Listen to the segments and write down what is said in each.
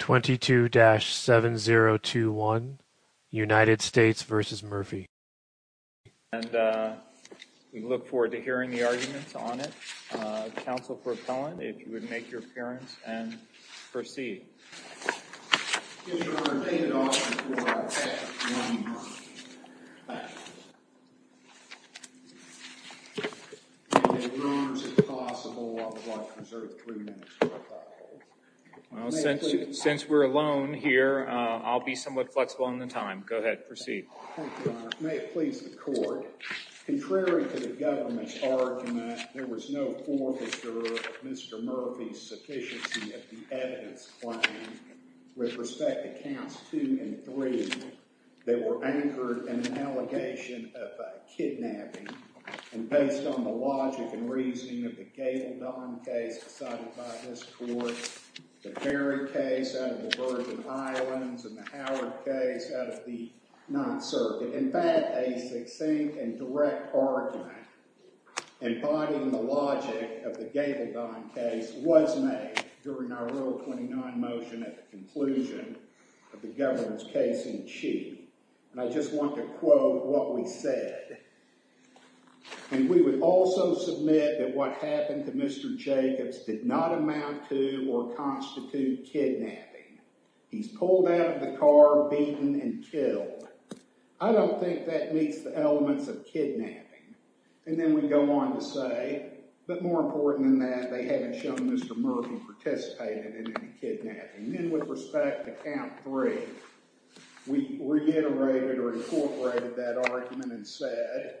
22-7021 United States v. Murphy We look forward to hearing the arguments on it. Council Propellant, if you would make your appearance and proceed. Since we're alone here, I'll be somewhat flexible in the time. Go ahead, proceed. Thank you, Your Honor. May it please the Court. Contrary to the government's argument, there was no forfeiture of Mr. Murphy's sufficiency of the evidence claimed. With respect to Counts 2 and 3, they were anchored in an allegation of kidnapping. And based on the logic and reasoning of the Gabaldon case decided by this Court, the Berry case out of the Virgin Islands and the Howard case out of the Ninth Circuit, in fact, a succinct and direct argument embodying the logic of the Gabaldon case was made during our Rule 29 motion at the conclusion of the government's case in the Chief. And I just want to quote what we said. And we would also submit that what happened to Mr. Jacobs did not amount to or constitute kidnapping. He's pulled out of the car, beaten, and killed. I don't think that meets the elements of kidnapping. And then we go on to say, but more important than that, they haven't shown Mr. Murphy participated in any kidnapping. And then with respect to Count 3, we reiterated or incorporated that argument and said,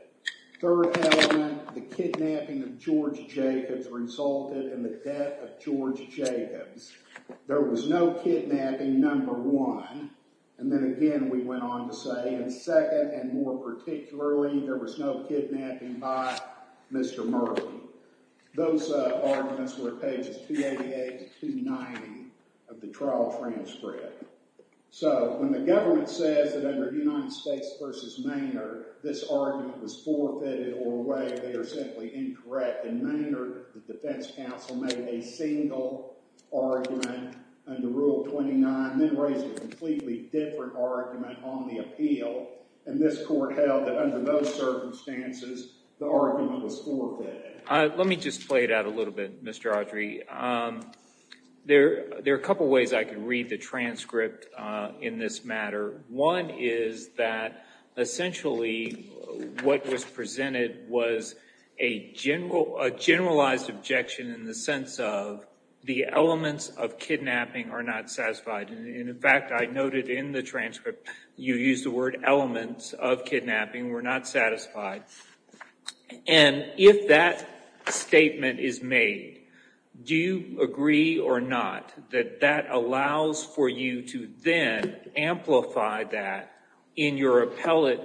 third element, the kidnapping of George Jacobs resulted in the death of George Jacobs. There was no kidnapping, number one. And then again, we went on to say, and second and more particularly, there was no kidnapping by Mr. Murphy. Those arguments were pages 288 to 290 of the trial transcript. So when the government says that under United States v. Maynard, this argument was forfeited or away, they are simply incorrect. In Maynard, the defense counsel made a single argument under Rule 29, then raised a completely different argument on the appeal. And this court held that under those circumstances, the argument was forfeited. Let me just play it out a little bit, Mr. Audrey. There are a couple of ways I can read the transcript in this matter. One is that essentially what was presented was a generalized objection in the sense of the elements of kidnapping are not satisfied. And in fact, I noted in the transcript, you used the word elements of kidnapping were not satisfied. And if that statement is made, do you agree or not that that allows for you to then amplify that in your appellate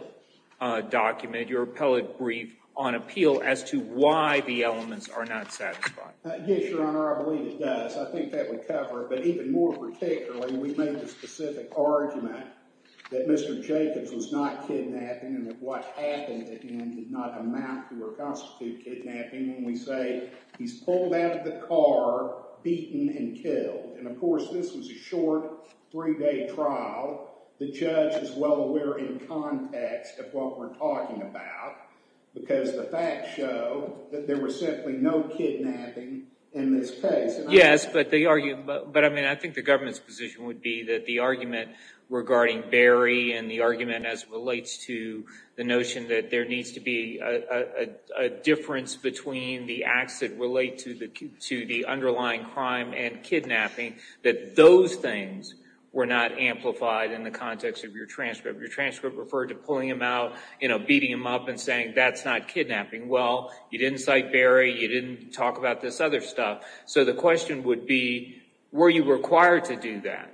document, your appellate brief on appeal as to why the elements are not satisfied? Yes, Your Honor, I believe it does. I think that would cover it. But even more particularly, we made the specific argument that Mr. Jacobs was not kidnapping and that what happened to him did not amount to or constitute kidnapping when we say he's pulled out of the car, beaten, and killed. And of course, this was a short three-day trial. The judge is well aware in context of what we're talking about because the facts show that there was simply no kidnapping in this case. Yes, but I think the government's position would be that the argument regarding Barry and the argument as it relates to the notion that there needs to be a difference between the acts that relate to the underlying crime and kidnapping, that those things were not amplified in the context of your transcript. Your transcript referred to pulling him out, beating him up, and saying that's not kidnapping. Well, you didn't cite Barry. You didn't talk about this other stuff. So the question would be, were you required to do that?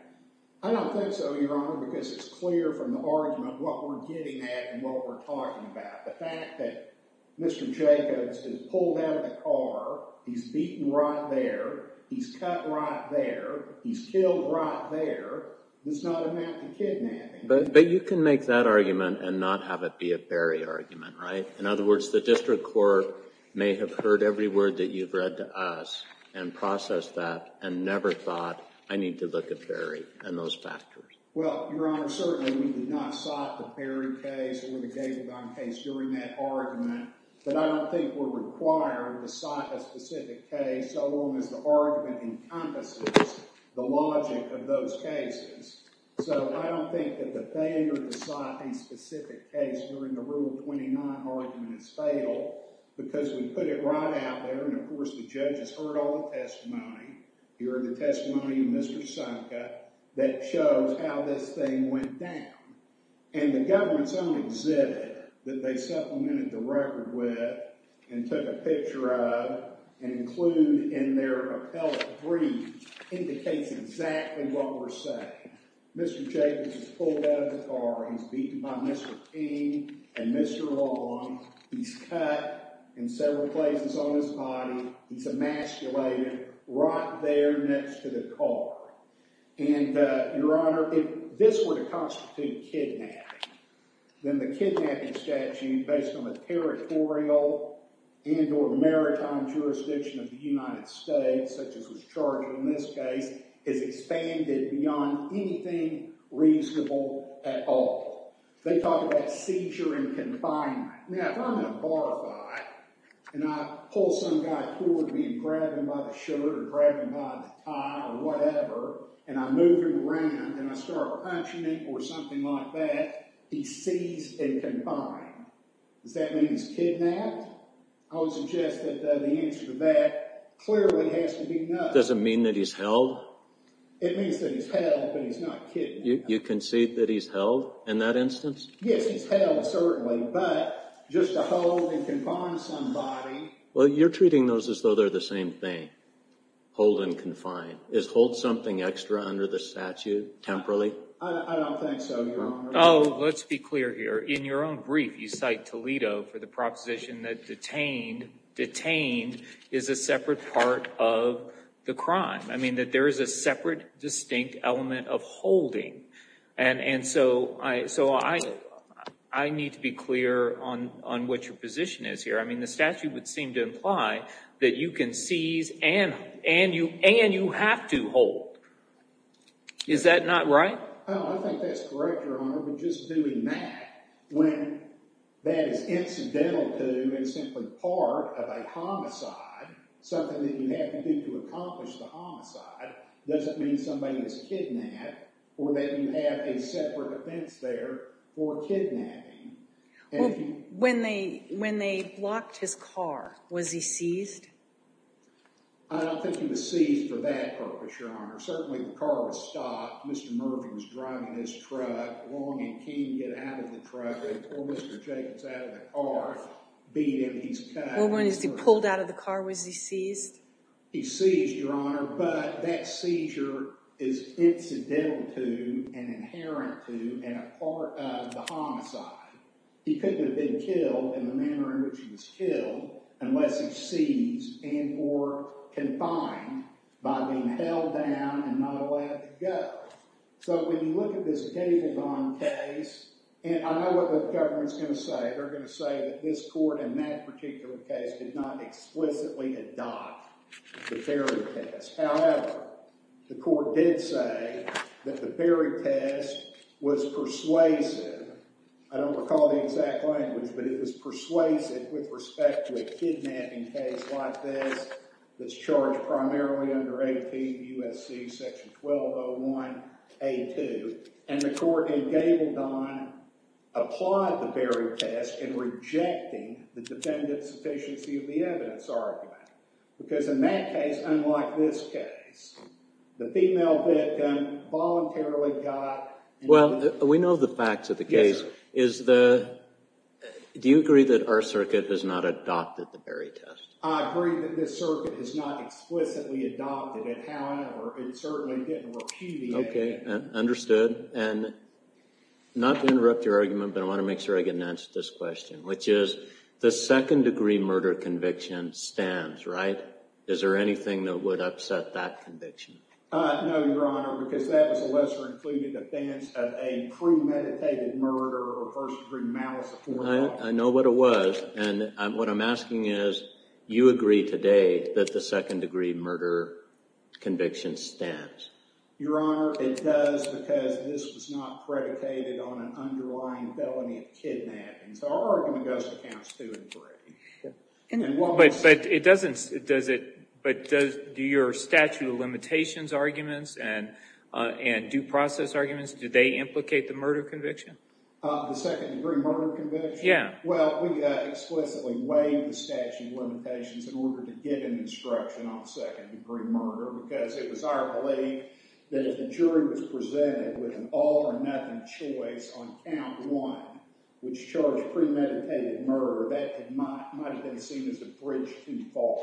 I don't think so, Your Honor, because it's clear from the argument what we're getting at and what we're talking about. The fact that Mr. Jacobs is pulled out of the car, he's beaten right there, he's cut right there, he's killed right there, does not amount to kidnapping. But you can make that argument and not have it be a Barry argument, right? In other words, the district court may have heard every word that you've read to us and processed that and never thought, I need to look at Barry and those factors. Well, Your Honor, certainly we did not cite the Barry case or the Gabaldon case during that argument. But I don't think we're required to cite a specific case so long as the argument encompasses the logic of those cases. So I don't think that the Banger to cite a specific case during the Rule 29 argument is fatal because we put it right out there. And, of course, the judge has heard all the testimony. You heard the testimony of Mr. Sanka that shows how this thing went down. And the government's own exhibit that they supplemented the record with and took a picture of and include in their appellate brief indicates exactly what we're saying. Mr. Jacobs is pulled out of the car. He's beaten by Mr. King and Mr. Long. He's cut in several places on his body. He's emasculated right there next to the car. And, Your Honor, if this were to constitute kidnapping, then the kidnapping statute, based on the territorial and or maritime jurisdiction of the United States, such as was charged in this case, is expanded beyond anything reasonable at all. They talk about seizure and confinement. Now, if I'm in a bar fight and I pull some guy toward me and grab him by the shirt or grab him by the tie or whatever, and I move him around and I start punching him or something like that, he's seized and confined. Does that mean he's kidnapped? I would suggest that the answer to that clearly has to be no. Does it mean that he's held? It means that he's held, but he's not kidnapped. You concede that he's held in that instance? Yes, he's held, certainly, but just to hold and confine somebody. Well, you're treating those as though they're the same thing, hold and confine. Is hold something extra under the statute, temporally? I don't think so, Your Honor. Oh, let's be clear here. In your own brief, you cite Toledo for the proposition that detained is a separate part of the crime. I mean that there is a separate, distinct element of holding. And so I need to be clear on what your position is here. I mean the statute would seem to imply that you can seize and you have to hold. Is that not right? No, I think that's correct, Your Honor, but just doing that when that is incidental to and simply part of a homicide, something that you have to do to accomplish the homicide, doesn't mean somebody is kidnapped or that you have a separate offense there for kidnapping. Well, when they blocked his car, was he seized? I don't think he was seized for that purpose, Your Honor. Certainly, the car was stopped. Mr. Mervin was driving his truck, longing to get out of the truck. Before Mr. Jacobs got out of the car, beat him, he was cut. Well, when he was pulled out of the car, was he seized? He's seized, Your Honor, but that seizure is incidental to and inherent to and a part of the homicide. He couldn't have been killed in the manner in which he was killed unless he's seized and or confined by being held down and not allowed to go. So when you look at this Gabaldon case, and I know what the government is going to say. They're going to say that this court in that particular case did not explicitly adopt the Berry test. However, the court did say that the Berry test was persuasive. I don't recall the exact language, but it was persuasive with respect to a kidnapping case like this that's charged primarily under 18 U.S.C. section 1201A2, and the court in Gabaldon applied the Berry test in rejecting the defendant's sufficiency of the evidence argument. Because in that case, unlike this case, the female victim voluntarily got— Well, we know the facts of the case. Yes, sir. Is the—do you agree that our circuit has not adopted the Berry test? I agree that this circuit has not explicitly adopted it. However, it certainly didn't repudiate it. Okay, understood. And not to interrupt your argument, but I want to make sure I get an answer to this question, which is the second-degree murder conviction stands, right? Is there anything that would upset that conviction? No, Your Honor, because that was a lesser-included offense of a premeditated murder or first-degree malice. I know what it was, and what I'm asking is, you agree today that the second-degree murder conviction stands? Your Honor, it does because this was not predicated on an underlying felony of kidnapping, so our argument goes to counts two and three. But it doesn't—does it—but do your statute of limitations arguments and due process arguments, do they implicate the murder conviction? The second-degree murder conviction? Yeah. Well, we explicitly waived the statute of limitations in order to get an instruction on second-degree murder because it was our belief that if the jury was presented with an all-or-nothing choice on count one, which charged premeditated murder, that might have been seen as a bridge too far.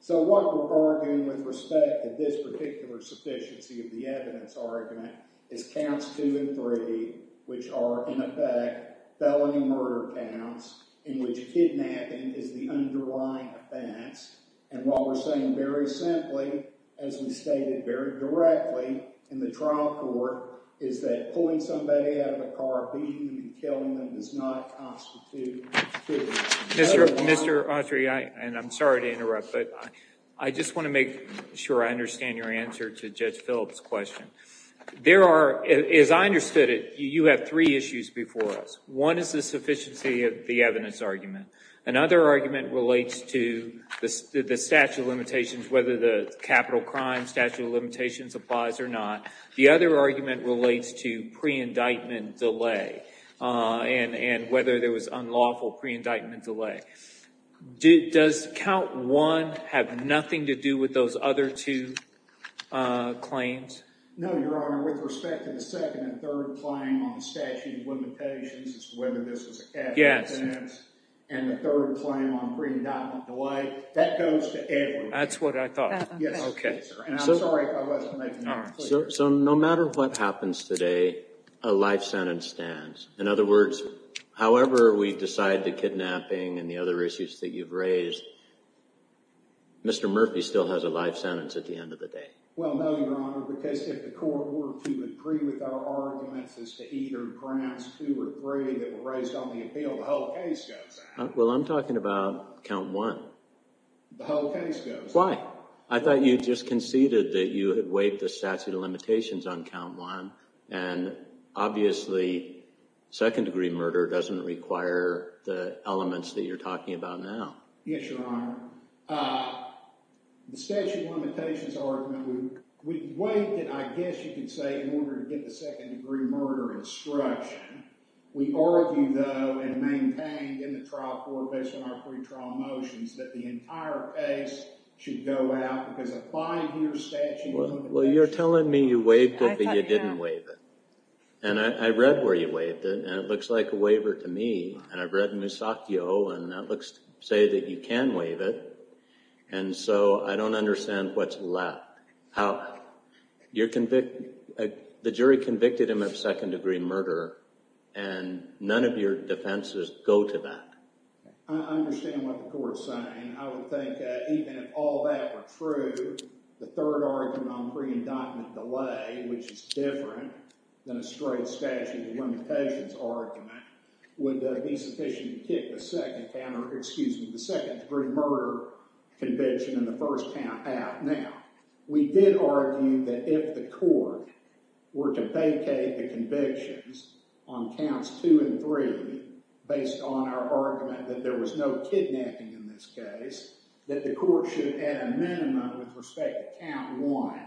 So what we're arguing with respect to this particular sufficiency of the evidence argument is counts two and three, which are, in effect, felony murder counts in which kidnapping is the underlying offense. And while we're saying very simply, as we stated very directly in the trial court, is that pulling somebody out of a car, beating them, and killing them does not constitute— Mr. Autry, and I'm sorry to interrupt, but I just want to make sure I understand your answer to Judge Phillips' question. There are—as I understood it, you have three issues before us. One is the sufficiency of the evidence argument. Another argument relates to the statute of limitations, whether the capital crime statute of limitations applies or not. The other argument relates to pre-indictment delay and whether there was unlawful pre-indictment delay. Does count one have nothing to do with those other two claims? No, Your Honor. With respect to the second and third claim on the statute of limitations as to whether this was a capital offense— Yes. —and the third claim on pre-indictment delay, that goes to Edward. That's what I thought. Yes. Okay. And I'm sorry if I wasn't making that clear. So no matter what happens today, a life sentence stands. In other words, however we decide the kidnapping and the other issues that you've raised, Mr. Murphy still has a life sentence at the end of the day. Well, no, Your Honor, because if the court were to agree with our arguments as to either pronounce two or three that were raised on the appeal, the whole case goes out. Well, I'm talking about count one. The whole case goes out. Why? I thought you just conceded that you had waived the statute of limitations on count one. And obviously, second-degree murder doesn't require the elements that you're talking about now. Yes, Your Honor. The statute of limitations argument, we waived it, I guess you could say, in order to get the second-degree murder instruction. We argue, though, and maintain in the trial court based on our pre-trial motions that the entire case should go out because of five-year statute of limitations. Well, you're telling me you waived it, but you didn't waive it. And I read where you waived it, and it looks like a waiver to me. And I've read Musacchio, and that looks to say that you can waive it. And so I don't understand what's left. The jury convicted him of second-degree murder, and none of your defenses go to that. I understand what the court is saying. I would think that even if all that were true, the third argument on pre-indictment delay, which is different than a straight statute of limitations argument, would be sufficient to kick the second-degree murder conviction in the first count out. Now, we did argue that if the court were to vacate the convictions on counts two and three, based on our argument that there was no kidnapping in this case, that the court should add a minimum with respect to count one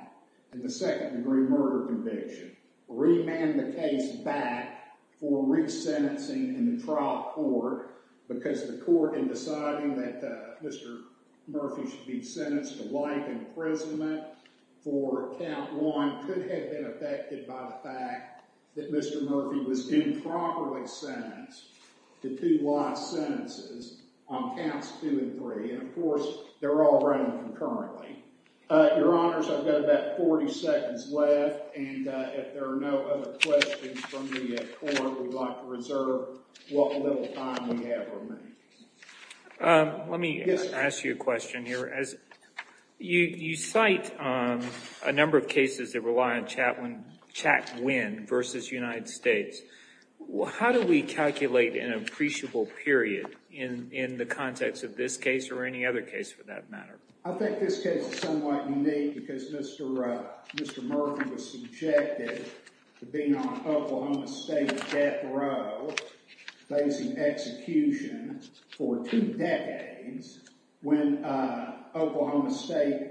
in the second-degree murder conviction, remand the case back for resentencing in the trial court because the court, in deciding that Mr. Murphy should be sentenced to life imprisonment for count one, could have been affected by the fact that Mr. Murphy was improperly sentenced to two last sentences on counts two and three. And, of course, they're all run concurrently. Your Honors, I've got about 40 seconds left. And if there are no other questions from the court, we'd like to reserve what little time we have remaining. Let me ask you a question here. As you cite a number of cases that rely on chat win versus United States, how do we calculate an appreciable period in the context of this case or any other case for that matter? I think this case is somewhat unique because Mr. Murphy was subjected to being on Oklahoma State death row, facing execution for two decades, when Oklahoma State,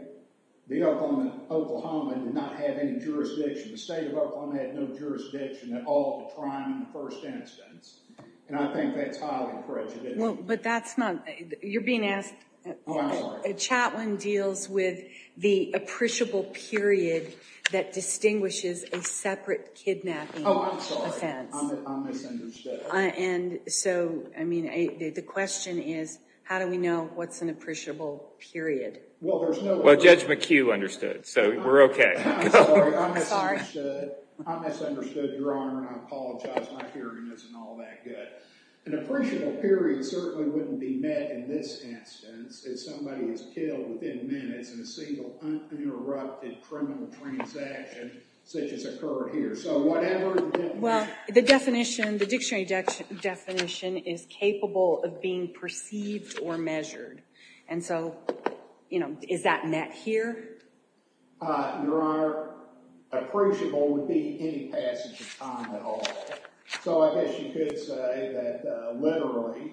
the Oklahoma did not have any jurisdiction. The state of Oklahoma had no jurisdiction at all to try him in the first instance. And I think that's highly prejudicial. But that's not – you're being asked – Oh, I'm sorry. A chat win deals with the appreciable period that distinguishes a separate kidnapping offense. Oh, I'm sorry. I'm misunderstood. And so, I mean, the question is, how do we know what's an appreciable period? Well, Judge McHugh understood, so we're okay. I'm sorry. I'm misunderstood, Your Honor, and I apologize. My hearing isn't all that good. An appreciable period certainly wouldn't be met in this instance if somebody was killed within minutes in a single, uninterrupted criminal transaction such as occurred here. So whatever – Well, the definition, the dictionary definition is capable of being perceived or measured. And so, you know, is that met here? Your Honor, appreciable would be any passage of time at all. So I guess you could say that literally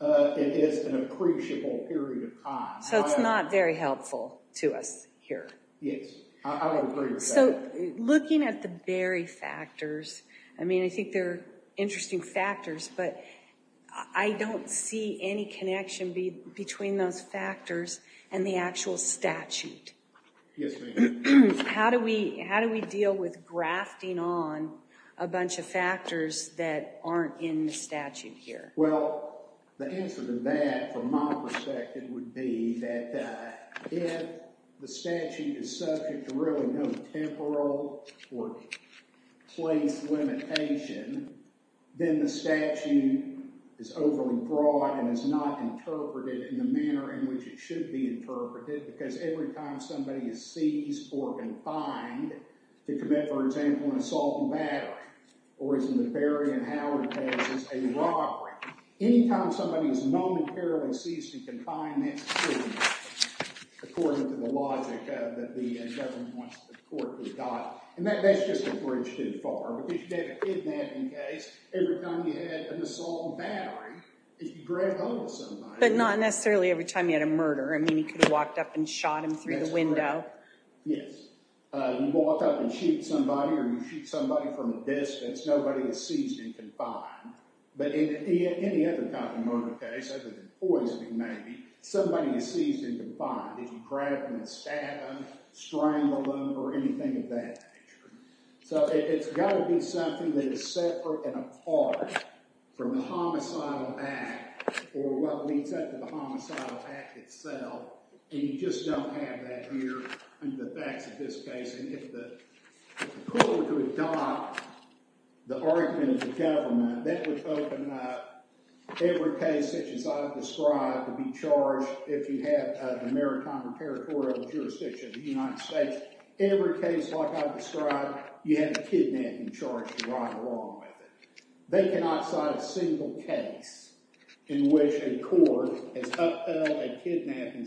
it is an appreciable period of time. So it's not very helpful to us here. Yes. I would agree with that. So looking at the Berry factors, I mean, I think they're interesting factors, but I don't see any connection between those factors and the actual statute. Yes, ma'am. How do we deal with grafting on a bunch of factors that aren't in the statute here? Well, the answer to that, from my perspective, would be that if the statute is subject to really no temporal or place limitation, then the statute is overly broad and is not interpreted in the manner in which it should be interpreted because every time somebody is seized or confined to commit, for example, an assault and battery or as in the Berry and Howard cases, a robbery, any time somebody is momentarily seized and confined, according to the logic that the government wants the court to adopt. And that's just a bridge too far because you have a kidnapping case. Every time you had an assault and battery, if you grabbed hold of somebody. But not necessarily every time you had a murder. I mean, you could have walked up and shot him through the window. Yes. You walk up and shoot somebody or you shoot somebody from a distance. Nobody is seized and confined. But in any other kind of murder case, other than poisoning maybe, somebody is seized and confined. If you grab them and stab them, strangle them or anything of that nature. So it's got to be something that is separate and apart from the homicidal act or what leads up to the homicidal act itself. And you just don't have that here in the facts of this case. If the court could adopt the argument of the government, that would open up every case such as I've described to be charged if you have a maritime or territorial jurisdiction in the United States. Every case like I've described, you have a kidnapping charge to ride along with it. They cannot cite a single case in which a court has upheld a kidnapping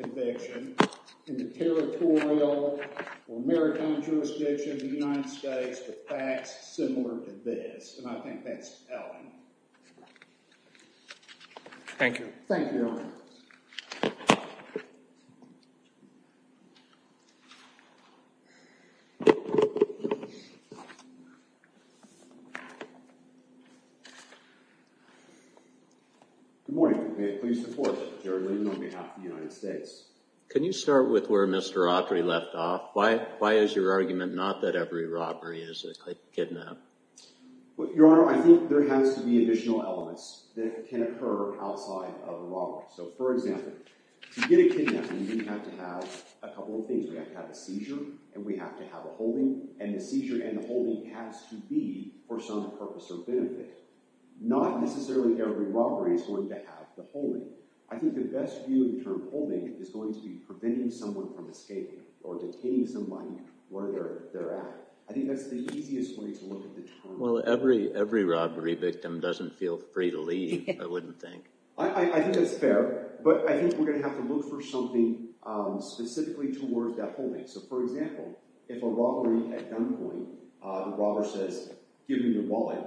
conviction in the territorial or maritime jurisdiction of the United States with facts similar to this. And I think that's telling. Thank you. Thank you. Your Honor. Good morning. May it please the Court. Jerry Linden on behalf of the United States. Can you start with where Mr. Autry left off? Why is your argument not that every robbery is a kidnap? Your Honor, I think there has to be additional elements that can occur outside of the robbery. So, for example, to get a kidnapping, you have to have a couple of things. We have to have a seizure and we have to have a holding. And the seizure and the holding has to be for some purpose or benefit. Not necessarily every robbery is going to have the holding. I think the best view in terms of holding is going to be preventing someone from escaping or detaining somebody where they're at. I think that's the easiest way to look at the term. Well, every robbery victim doesn't feel free to leave, I wouldn't think. I think that's fair. But I think we're going to have to look for something specifically towards that holding. So, for example, if a robbery at gunpoint, the robber says, give me your wallet,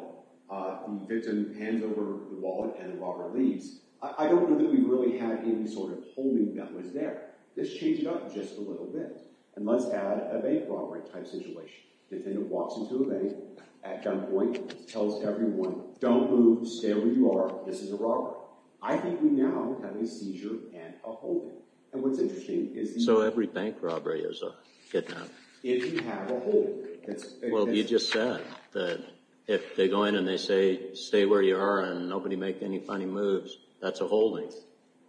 the victim hands over the wallet and the robber leaves. I don't know that we really had any sort of holding that was there. This changed up just a little bit. And let's add a bank robbery type situation. The defendant walks into a bank at gunpoint, tells everyone, don't move, stay where you are, this is a robbery. I think we now have a seizure and a holding. And what's interesting is— So every bank robbery is a kidnapping? If you have a holding. Well, you just said that if they go in and they say, stay where you are and nobody make any funny moves, that's a holding.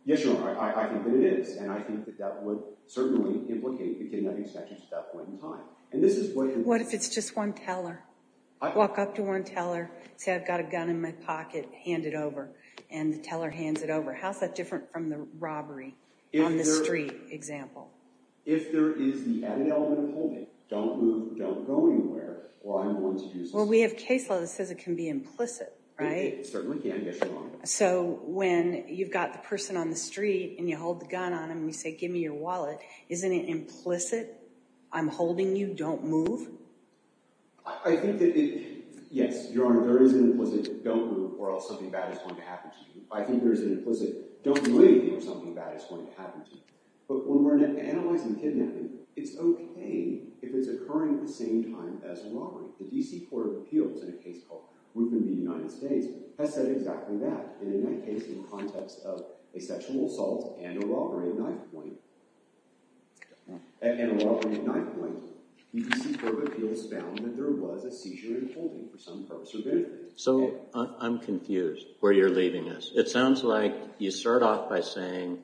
Yes, Your Honor, I think that it is. And I think that that would certainly implicate the kidnapping statute at that point in time. And this is what— What if it's just one teller? Walk up to one teller, say, I've got a gun in my pocket, hand it over. And the teller hands it over. How is that different from the robbery on the street example? If there is the added element of holding, don't move, don't go anywhere, well, I'm the one to use the— Well, we have case law that says it can be implicit, right? It certainly can, Yes, Your Honor. So when you've got the person on the street and you hold the gun on them and you say, give me your wallet, isn't it implicit? I'm holding you, don't move? I think that it— Yes, Your Honor, there is an implicit don't move or else something bad is going to happen to you. I think there is an implicit don't leave or something bad is going to happen to you. But when we're analyzing kidnapping, it's okay if it's occurring at the same time as robbery. The D.C. Court of Appeals in a case called Rupin v. United States has said exactly that. And in that case, in the context of a sexual assault and a robbery at knifepoint, the D.C. Court of Appeals found that there was a seizure in holding for some purpose or benefit. So I'm confused where you're leaving us. It sounds like you start off by saying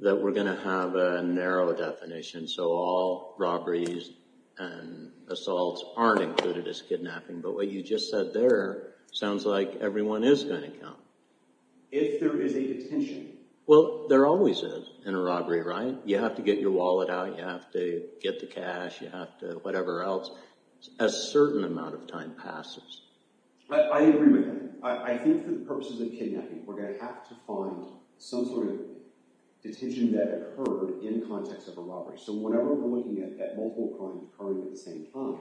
that we're going to have a narrow definition, so all robberies and assaults aren't included as kidnapping. But what you just said there sounds like everyone is going to come. If there is a detention— Well, there always is in a robbery, right? You have to get your wallet out, you have to get the cash, you have to whatever else. A certain amount of time passes. I agree with you. I think for the purposes of kidnapping, we're going to have to find some sort of detention that occurred in the context of a robbery. So whenever we're looking at multiple crimes occurring at the same time,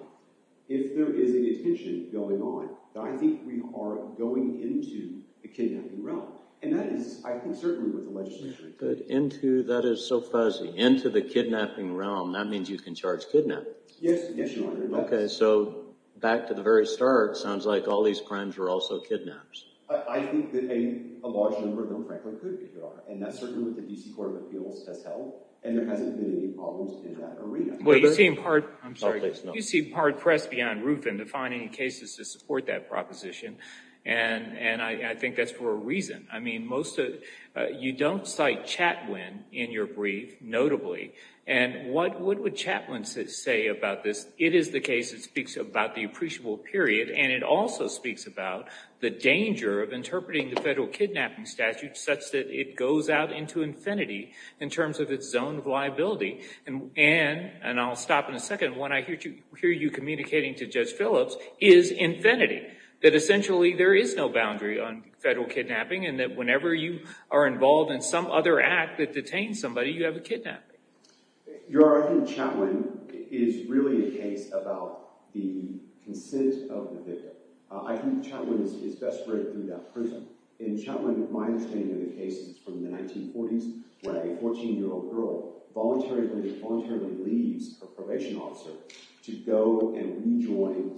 if there is a detention going on, I think we are going into the kidnapping realm. And that is, I think, certainly with the legislature. Into—that is so fuzzy. Into the kidnapping realm. That means you can charge kidnapping. Yes, Your Honor. Okay, so back to the very start, sounds like all these crimes were also kidnaps. I think that a large number of them frankly could be, Your Honor. And that's certainly what the D.C. Court of Appeals has held. And there hasn't been any problems in that arena. Well, you seem hard—I'm sorry. You seem hard-pressed beyond roof in defining cases to support that proposition. And I think that's for a reason. I mean, most of—you don't cite Chatwin in your brief, notably. And what would Chatwin say about this? It is the case that speaks about the appreciable period. And it also speaks about the danger of interpreting the federal kidnapping statute such that it goes out into infinity in terms of its zone of liability. And I'll stop in a second. What I hear you communicating to Judge Phillips is infinity. That essentially there is no boundary on federal kidnapping. And that whenever you are involved in some other act that detains somebody, you have a kidnapping. Your Honor, I think Chatwin is really a case about the consent of the victim. I think Chatwin is best read through that prism. In Chatwin, my understanding of the case is from the 1940s where a 14-year-old girl voluntarily leaves her probation officer to go and rejoin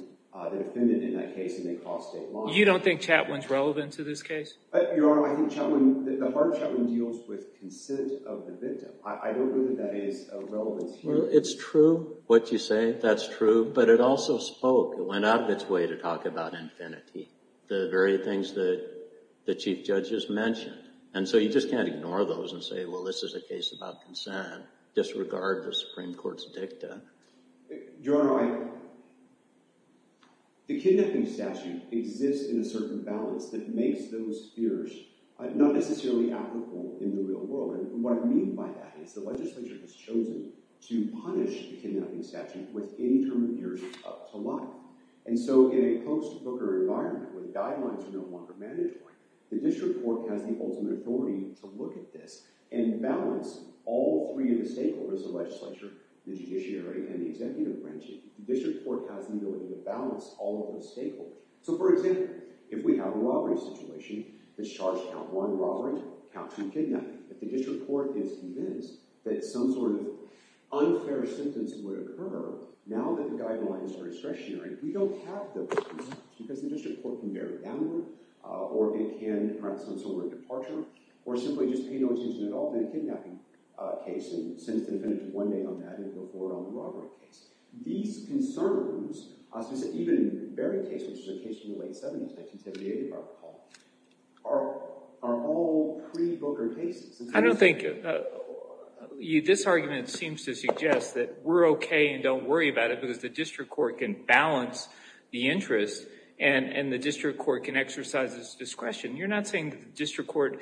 the defendant in that case, and they cross state lines. You don't think Chatwin is relevant to this case? Your Honor, I think Chatwin—the heart of Chatwin deals with consent of the victim. I don't think that that is of relevance here. Well, it's true what you say. That's true. But it also spoke. It went out of its way to talk about infinity. The very things that the Chief Judge has mentioned. And so you just can't ignore those and say, well, this is a case about consent. Disregard the Supreme Court's dicta. Your Honor, I—the kidnapping statute exists in a certain balance that makes those fears not necessarily applicable in the real world. And what I mean by that is the legislature has chosen to punish the kidnapping statute with interim years up to life. And so in a post-Booker environment where the guidelines are no longer mandatory, the district court has the ultimate authority to look at this and balance all three of the stakeholders— the legislature, the judiciary, and the executive branch. The district court has the ability to balance all of those stakeholders. So, for example, if we have a robbery situation that's charged count one, robbery, count two, kidnapping, if the district court is convinced that some sort of unfair sentence would occur now that the guidelines are discretionary, we don't have those reasons. Because the district court can bury it downward, or it can, perhaps on some sort of departure, or simply just pay no attention at all to that kidnapping case and sentence the defendant to one day on that and go forward on the robbery case. These concerns, even in the Berry case, which is a case from the late 70s, 1978, if I recall, are all pre-Booker cases. I don't think—this argument seems to suggest that we're okay and don't worry about it because the district court can balance the interest and the district court can exercise its discretion. You're not saying that the district court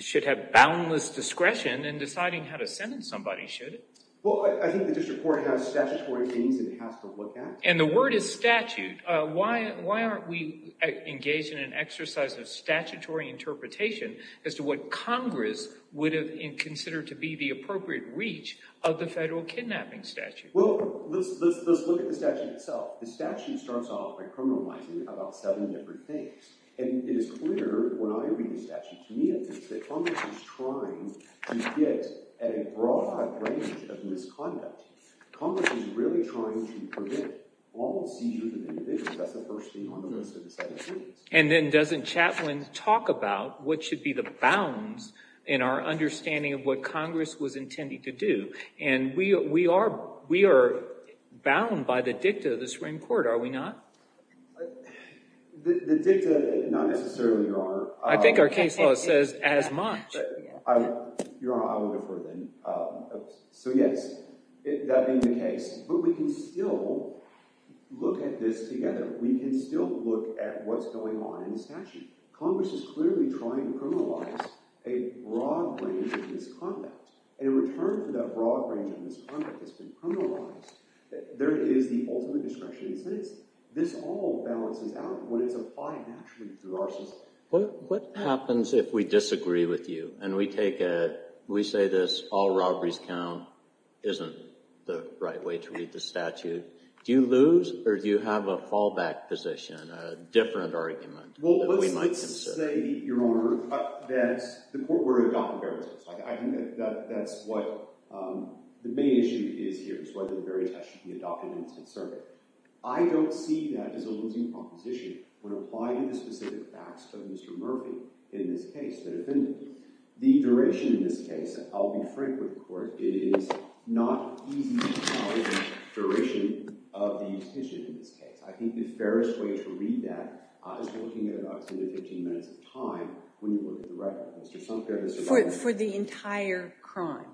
should have boundless discretion in deciding how to sentence somebody, should it? Well, I think the district court has statutory means it has to look at. And the word is statute. Why aren't we engaged in an exercise of statutory interpretation as to what Congress would have considered to be the appropriate reach of the federal kidnapping statute? Well, let's look at the statute itself. The statute starts off by criminalizing about seven different things. And it is clear when I read the statute, to me at least, that Congress is trying to get at a broad range of misconduct. Congress is really trying to prevent all seizures of individuals. That's the first thing Congress has decided to do. And then doesn't Chatwin talk about what should be the bounds in our understanding of what Congress was intended to do? And we are bound by the dicta of the Supreme Court, are we not? The dicta, not necessarily, Your Honor. I think our case law says as much. Your Honor, I will go for it then. So, yes, that being the case. But we can still look at this together. We can still look at what's going on in the statute. Congress is clearly trying to criminalize a broad range of misconduct. In return for that broad range of misconduct that's been criminalized, there is the ultimate discretion. This all balances out when it's applied naturally through our system. What happens if we disagree with you and we say this, all robberies count, isn't the right way to read the statute? Do you lose or do you have a fallback position, a different argument that we might consider? Well, let's say, Your Honor, that the court were to adopt a barrier test. I think that's what the main issue is here, is whether the barrier test should be adopted in its own circuit. I don't see that as a losing proposition when applying the specific facts of Mr. Murphy in this case, the defendant. The duration in this case, I'll be frank with the court, is not easy to tell the duration of the petition in this case. I think the fairest way to read that is looking at about 10 to 15 minutes of time when you look at the record. Mr. Sumpter, does that make sense? For the entire crime?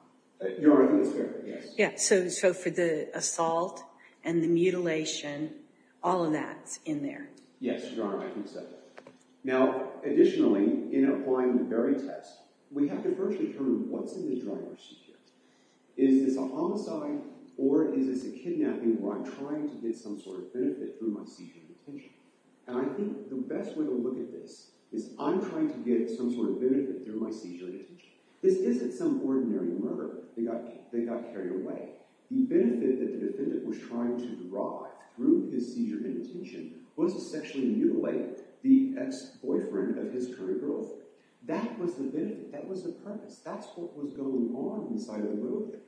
Your Honor, I think it's fair, yes. Yeah, so for the assault and the mutilation, all of that's in there. Yes, Your Honor, I think so. Now, additionally, in applying the barrier test, we have to first determine what's in the driver's seat. Is this a homicide or is this a kidnapping where I'm trying to get some sort of benefit through my seizure and detention? And I think the best way to look at this is I'm trying to get some sort of benefit through my seizure and detention. This isn't some ordinary murder. They got carried away. The benefit that the defendant was trying to derive through his seizure and detention was to sexually mutilate the ex-boyfriend of his current girlfriend. That was the benefit. That was the purpose. That's what was going on inside of the military.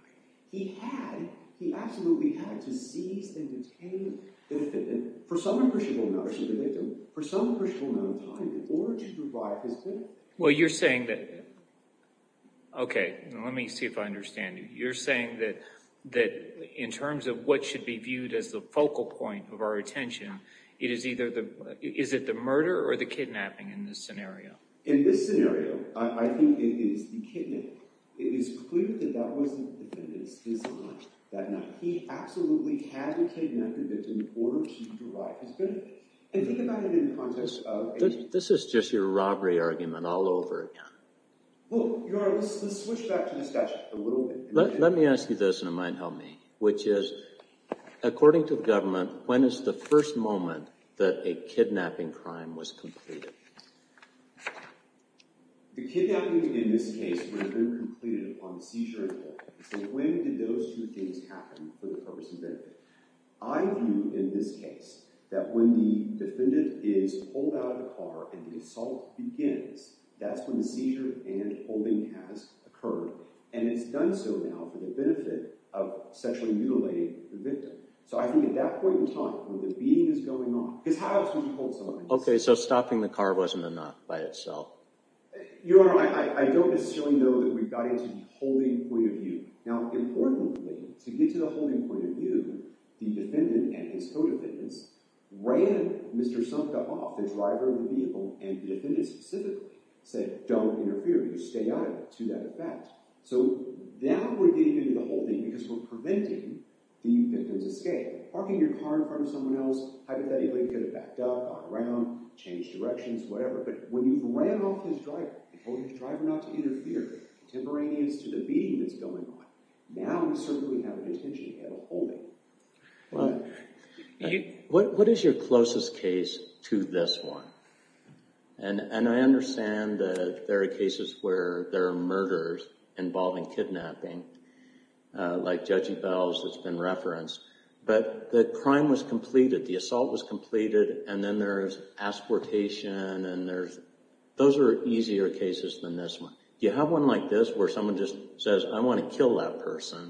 He had – he absolutely had to seize and detain the defendant for some appreciable amount of time in order to derive his benefit. Well, you're saying that – okay, let me see if I understand you. You're saying that in terms of what should be viewed as the focal point of our attention, it is either the – is it the murder or the kidnapping in this scenario? In this scenario, I think it is the kidnapping. It is clear that that wasn't the defendant's decision that night. He absolutely had to kidnap the victim in order to derive his benefit. And think about it in the context of – This is just your robbery argument all over again. Well, Your Honor, let's switch back to the statute a little bit. Let me ask you this, and it might help me, which is according to the government, when is the first moment that a kidnapping crime was completed? The kidnapping in this case would have been completed upon the seizure and detention. So when did those two things happen for the purpose of benefit? I view in this case that when the defendant is pulled out of the car and the assault begins, that's when the seizure and holding has occurred. And it's done so now for the benefit of sexually mutilating the victim. So I think at that point in time, when the beating is going on – because how else would you hold someone? Okay, so stopping the car wasn't enough by itself. Your Honor, I don't necessarily know that we got into the holding point of view. Now, importantly, to get to the holding point of view, the defendant and his co-defendants ran Mr. Sumka off, the driver of the vehicle. And the defendant specifically said, don't interfere. You stay out of it to that effect. So now we're getting into the holding because we're preventing the victim's escape. Parking your car in front of someone else, hypothetically, you could have backed up, gone around, changed directions, whatever. But when you've ran off his driver, told his driver not to interfere, contemporaneous to the beating that's going on, now you certainly have an intention to get a holding. What is your closest case to this one? And I understand that there are cases where there are murders involving kidnapping, like Judgey Bell's that's been referenced. But the crime was completed. The assault was completed. And then there's exportation. And those are easier cases than this one. You have one like this where someone just says, I want to kill that person.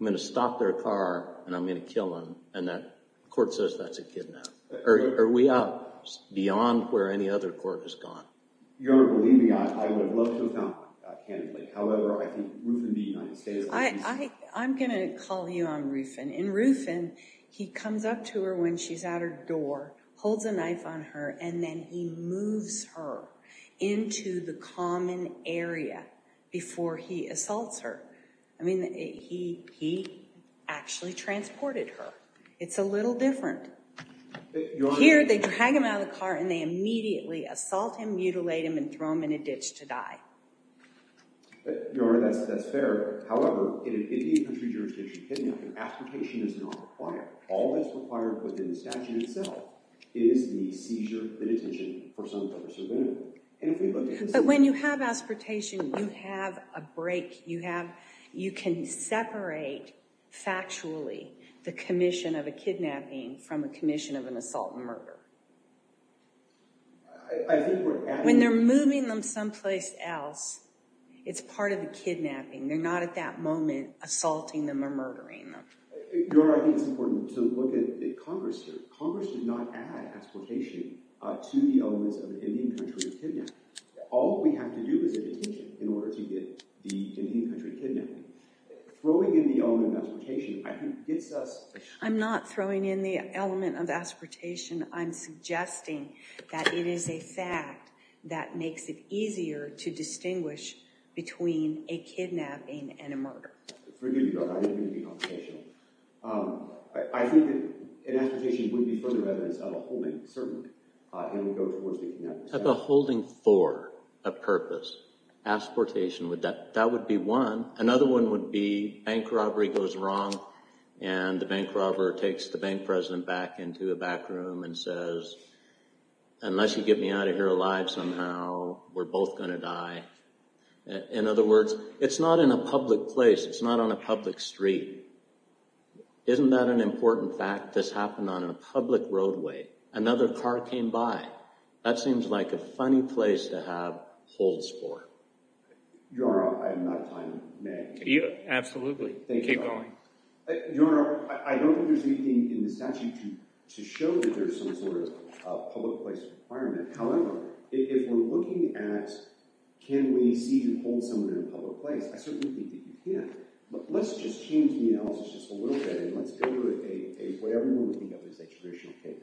I'm going to stop their car, and I'm going to kill him. And the court says that's a kidnap. Are we out beyond where any other court has gone? Your Honor, believe me, I would have loved to have gone candidly. However, I think Rufin v. United States. I'm going to call you on Rufin. In Rufin, he comes up to her when she's at her door, holds a knife on her, and then he moves her into the common area before he assaults her. I mean, he actually transported her. It's a little different. Here, they drag him out of the car, and they immediately assault him, mutilate him, and throw him in a ditch to die. Your Honor, that's fair. However, in an Indian country jurisdiction kidnap, exportation is not required. All that's required within the statute itself is the seizure and detention for some type of subpoena. But when you have exportation, you have a break. You can separate, factually, the commission of a kidnapping from a commission of an assault and murder. I think we're at it. When they're moving them someplace else, it's part of the kidnapping. They're not, at that moment, assaulting them or murdering them. Your Honor, I think it's important to look at Congress here. Congress did not add exportation to the elements of an Indian country kidnap. All we have to do is a detention in order to get the Indian country kidnapped. Throwing in the element of exportation, I think, gets us— I'm not throwing in the element of exportation. I'm suggesting that it is a fact that makes it easier to distinguish between a kidnapping and a murder. Forgive me, Your Honor, I didn't mean to be computational. I think that an exportation would be further evidence of a holding, certainly, and would go towards the kidnapping. Of a holding for a purpose, exportation, that would be one. Another one would be bank robbery goes wrong, and the bank robber takes the bank president back into the back room and says, unless you get me out of here alive somehow, we're both going to die. In other words, it's not in a public place. It's not on a public street. Isn't that an important fact? This happened on a public roadway. Another car came by. That seems like a funny place to have holds for. Your Honor, I'm out of time. May I continue? Absolutely. Keep going. Your Honor, I don't think there's anything in the statute to show that there's some sort of public place requirement. However, if we're looking at can we seize and hold someone in a public place, I certainly think that you can. But let's just change the analysis just a little bit, and let's go to whatever we want to think of as a traditional case.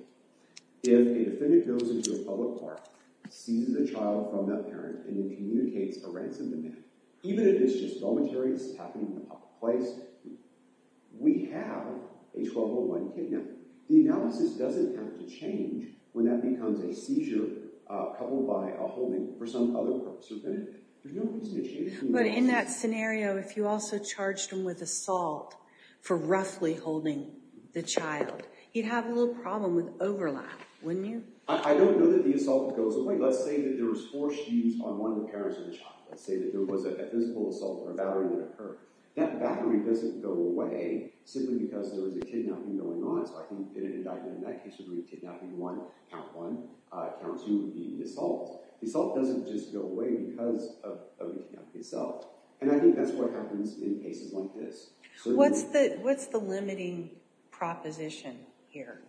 If a defendant goes into a public park, seizes a child from that parent, and then communicates a ransom demand, even if it's just dormitories happening in a public place, we have a 1201 kidnapping. The analysis doesn't have to change when that becomes a seizure coupled by a holding for some other purpose or benefit. There's no reason to change the analysis. But in that scenario, if you also charged him with assault for roughly holding the child, you'd have a little problem with overlap, wouldn't you? I don't know that the assault goes away. Let's say that there was force used on one of the parents of the child. Let's say that there was a physical assault or a battery that occurred. That battery doesn't go away simply because there was a kidnapping going on. It's like an indictment. In that case, it would be kidnapping one, count one, count two, the assault. The assault doesn't just go away because of the kidnapping itself. And I think that's what happens in cases like this. What's the limiting proposition here?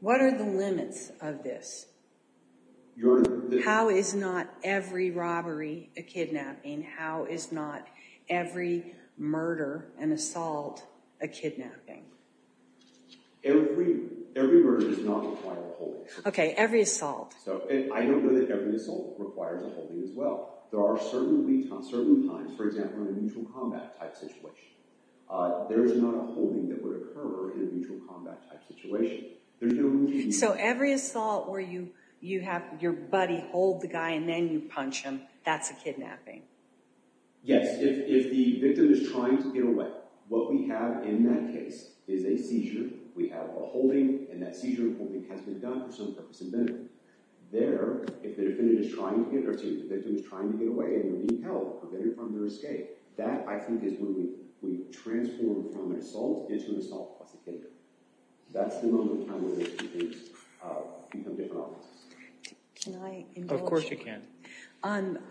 What are the limits of this? How is not every robbery a kidnapping? How is not every murder and assault a kidnapping? Every murder does not require a holding. Okay, every assault. I don't know that every assault requires a holding as well. There are certain times, for example, in a mutual combat type situation. There is not a holding that would occur in a mutual combat type situation. So every assault where you have your buddy hold the guy and then you punch him, that's a kidnapping? Yes, if the victim is trying to get away. What we have in that case is a seizure. We have a holding, and that seizure holding has been done for some purpose and benefit. There, if the victim is trying to get away and you're being held, prevented from your escape, that, I think, is when we transform from an assault into an assault plus a kidnapping. That's the moment in time where those two things become different objects. Can I indulge? Of course you can.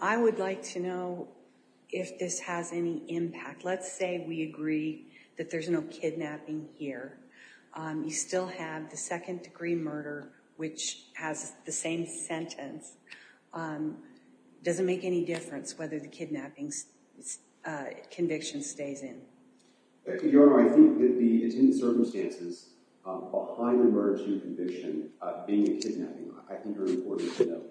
I would like to know if this has any impact. Let's say we agree that there's no kidnapping here. You still have the second-degree murder, which has the same sentence. Does it make any difference whether the kidnapping conviction stays in? Your Honor, I think that the intended circumstances behind the murder to conviction being a kidnapping, I think are important to know.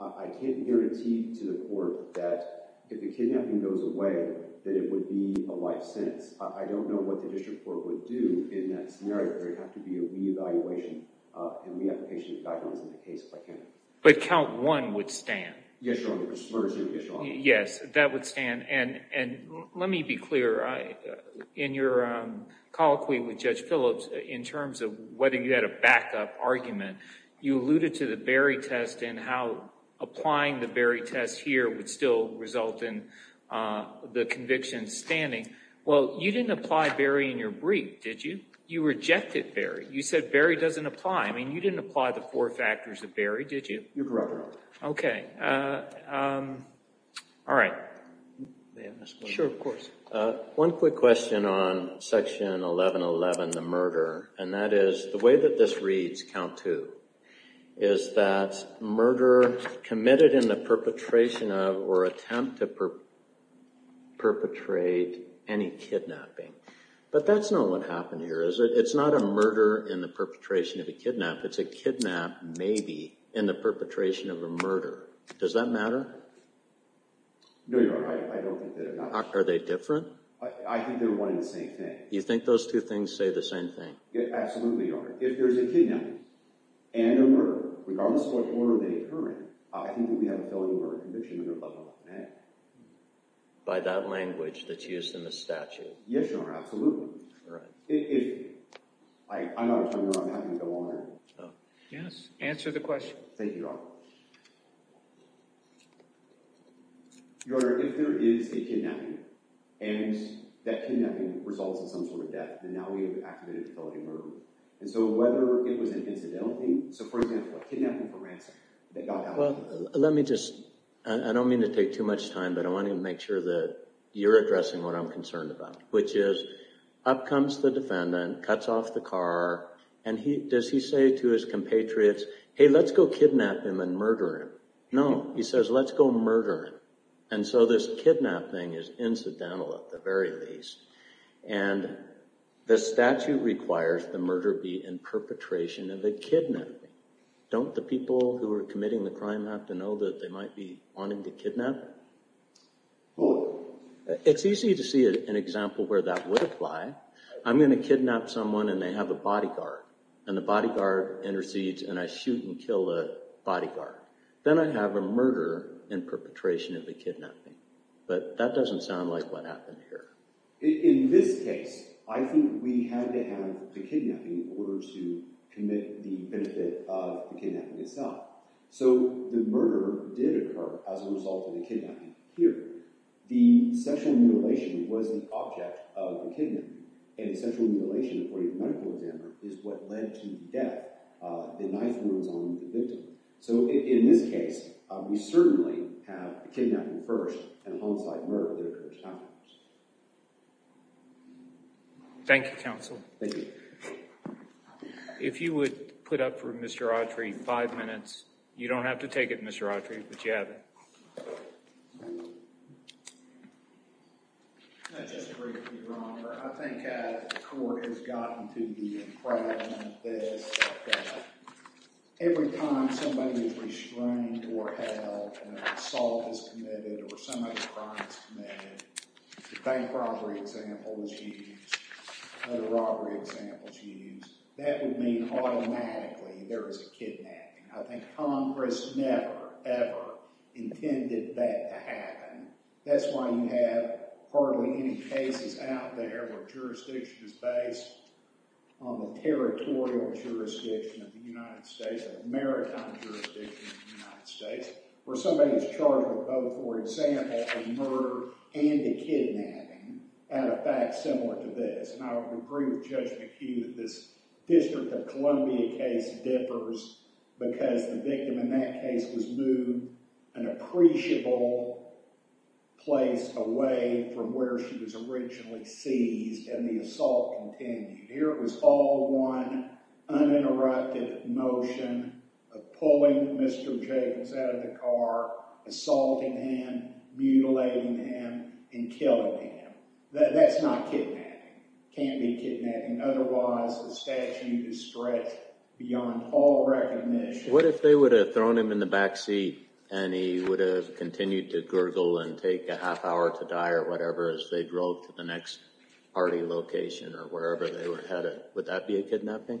I can't guarantee to the court that if the kidnapping goes away, that it would be a life sentence. I don't know what the district court would do in that scenario. There would have to be a re-evaluation and re-application of guidelines in the case by county. But count one would stand? Yes, Your Honor. Yes, Your Honor. Yes, that would stand. Let me be clear. In your colloquy with Judge Phillips, in terms of whether you had a backup argument, you alluded to the Berry test and how applying the Berry test here would still result in the conviction standing. Well, you didn't apply Berry in your brief, did you? You rejected Berry. You said Berry doesn't apply. I mean, you didn't apply the four factors of Berry, did you? You're correct. Okay. All right. Sure, of course. One quick question on Section 1111, the murder, and that is the way that this reads, count two, is that murder committed in the perpetration of or attempt to perpetrate any kidnapping. But that's not what happened here, is it? It's not a murder in the perpetration of a kidnap. It's a kidnap, maybe, in the perpetration of a murder. Does that matter? No, Your Honor. I don't think that it matters. Are they different? I think they're one and the same thing. You think those two things say the same thing? Absolutely, Your Honor. If there's a kidnapping and a murder, regardless of what order they occur in, I think that we have a felony murder conviction that goes above and beyond that. By that language that's used in the statute? Yes, Your Honor, absolutely. All right. I'm out of time, Your Honor. I'm happy to go on. Yes, answer the question. Thank you, Your Honor. Your Honor, if there is a kidnapping and that kidnapping results in some sort of death, then now we have activated a felony murder. And so whether it was an incidental thing, so, for example, a kidnapping for ransom, that got out of hand. Well, let me just, I don't mean to take too much time, but I want to make sure that you're addressing what I'm concerned about, which is up comes the defendant, cuts off the car, and does he say to his compatriots, hey, let's go kidnap him and murder him? No. He says, let's go murder him. And so this kidnapping is incidental, at the very least. And the statute requires the murder be in perpetration of a kidnapping. Don't the people who are committing the crime have to know that they might be wanting to kidnap him? Well, it's easy to see an example where that would apply. I'm going to kidnap someone and they have a bodyguard, and the bodyguard intercedes and I shoot and kill the bodyguard. Then I have a murder in perpetration of a kidnapping. But that doesn't sound like what happened here. In this case, I think we had to have the kidnapping in order to commit the benefit of the kidnapping itself. So the murder did occur as a result of the kidnapping here. The sexual mutilation was the object of the kidnapping, and the sexual mutilation, according to the medical examiner, is what led to the death. The knife runs on the victim. So in this case, we certainly have a kidnapping first and a homicide and murder that occurred at the time. Thank you, counsel. Thank you. If you would put up for Mr. Autry five minutes. You don't have to take it, Mr. Autry, but you have it. Thank you. Just to be briefly, Your Honor, I think the court has gotten to the impression of this, that every time somebody is restrained or held and an assault is committed or some other crime is committed, the bank robbery example is used, other robbery examples used, that would mean automatically there is a kidnapping. I think Congress never, ever intended that to happen. That's why you have hardly any cases out there where jurisdiction is based on the territorial jurisdiction of the United States, the maritime jurisdiction of the United States, where somebody is charged with both, for example, a murder and a kidnapping, and a fact similar to this. And I would agree with Judge McHugh that this District of Columbia case differs because the victim in that case was moved an appreciable place away from where she was originally seized, and the assault continued. Here it was all one uninterrupted motion of pulling Mr. Jacobs out of the car, assaulting him, mutilating him, and killing him. That's not kidnapping. It can't be kidnapping. Otherwise, the statute is stretched beyond all recognition. What if they would have thrown him in the back seat, and he would have continued to gurgle and take a half hour to die or whatever as they drove to the next party location or wherever they were headed? Would that be a kidnapping?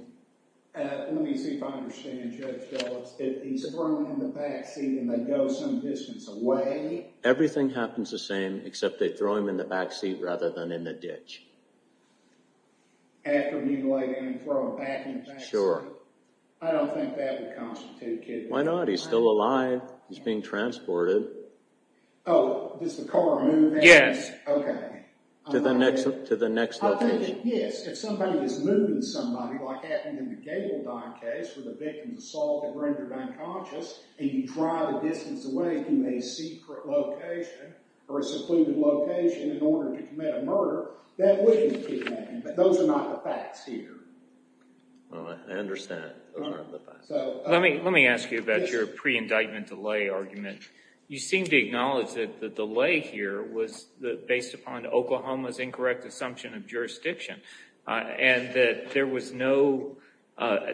Let me see if I understand Judge Dulles. If he's thrown in the back seat and they go some distance away? Everything happens the same except they throw him in the back seat rather than in the ditch. After mutilating him and throwing him back in the back seat? Sure. I don't think that would constitute kidnapping. Why not? He's still alive. He's being transported. Oh, does the car move him? Yes. Okay. To the next location? I think, yes. If somebody is moving somebody, like happened in the Gabaldon case with the victim's assault that rendered unconscious, and you drive a distance away from a secret location or a secluded location in order to commit a murder, that wouldn't be kidnapping. Those are not the facts here. I understand. Let me ask you about your pre-indictment delay argument. You seem to acknowledge that the delay here was based upon Oklahoma's incorrect assumption of jurisdiction and that there was no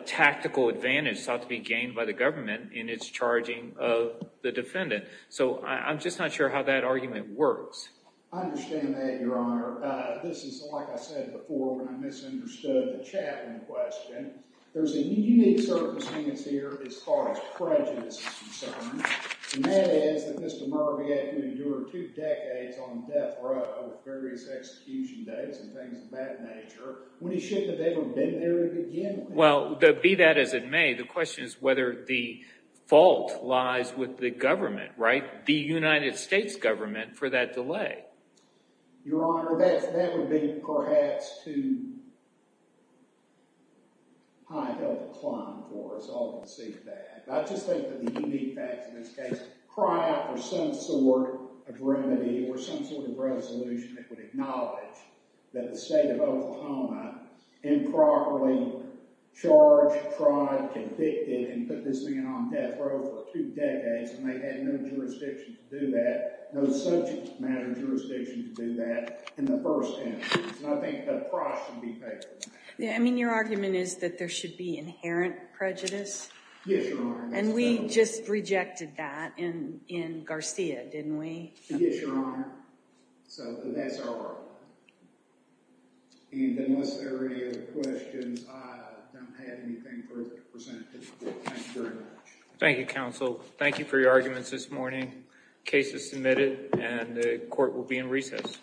tactical advantage sought to be gained by the government in its charging of the defendant. So I'm just not sure how that argument works. I understand that, Your Honor. This is, like I said before, when I misunderstood the chaplain question. There's a unique circumstance here as far as prejudice is concerned, and that is that Mr. Murry had to endure two decades on death row with various execution dates and things of that nature when he shouldn't have ever been there to begin with. Well, be that as it may, the question is whether the fault lies with the government, right? The United States government for that delay. Your Honor, that would be perhaps too high a decline for us all to see that. I just think that the unique facts in this case cry out for some sort of remedy or some sort of resolution that would acknowledge that the state of Oklahoma improperly charged, tried, convicted, and put this thing on death row for two decades, and they had no jurisdiction to do that, no such matter of jurisdiction to do that in the first instance. And I think that price should be paid for that. I mean, your argument is that there should be inherent prejudice? Yes, your Honor. And we just rejected that in Garcia, didn't we? Yes, your Honor. So that's our argument. And unless there are any other questions, I don't have anything further to present. Thank you very much. Thank you, counsel. Thank you for your arguments this morning. The case is submitted, and the court will be in recess.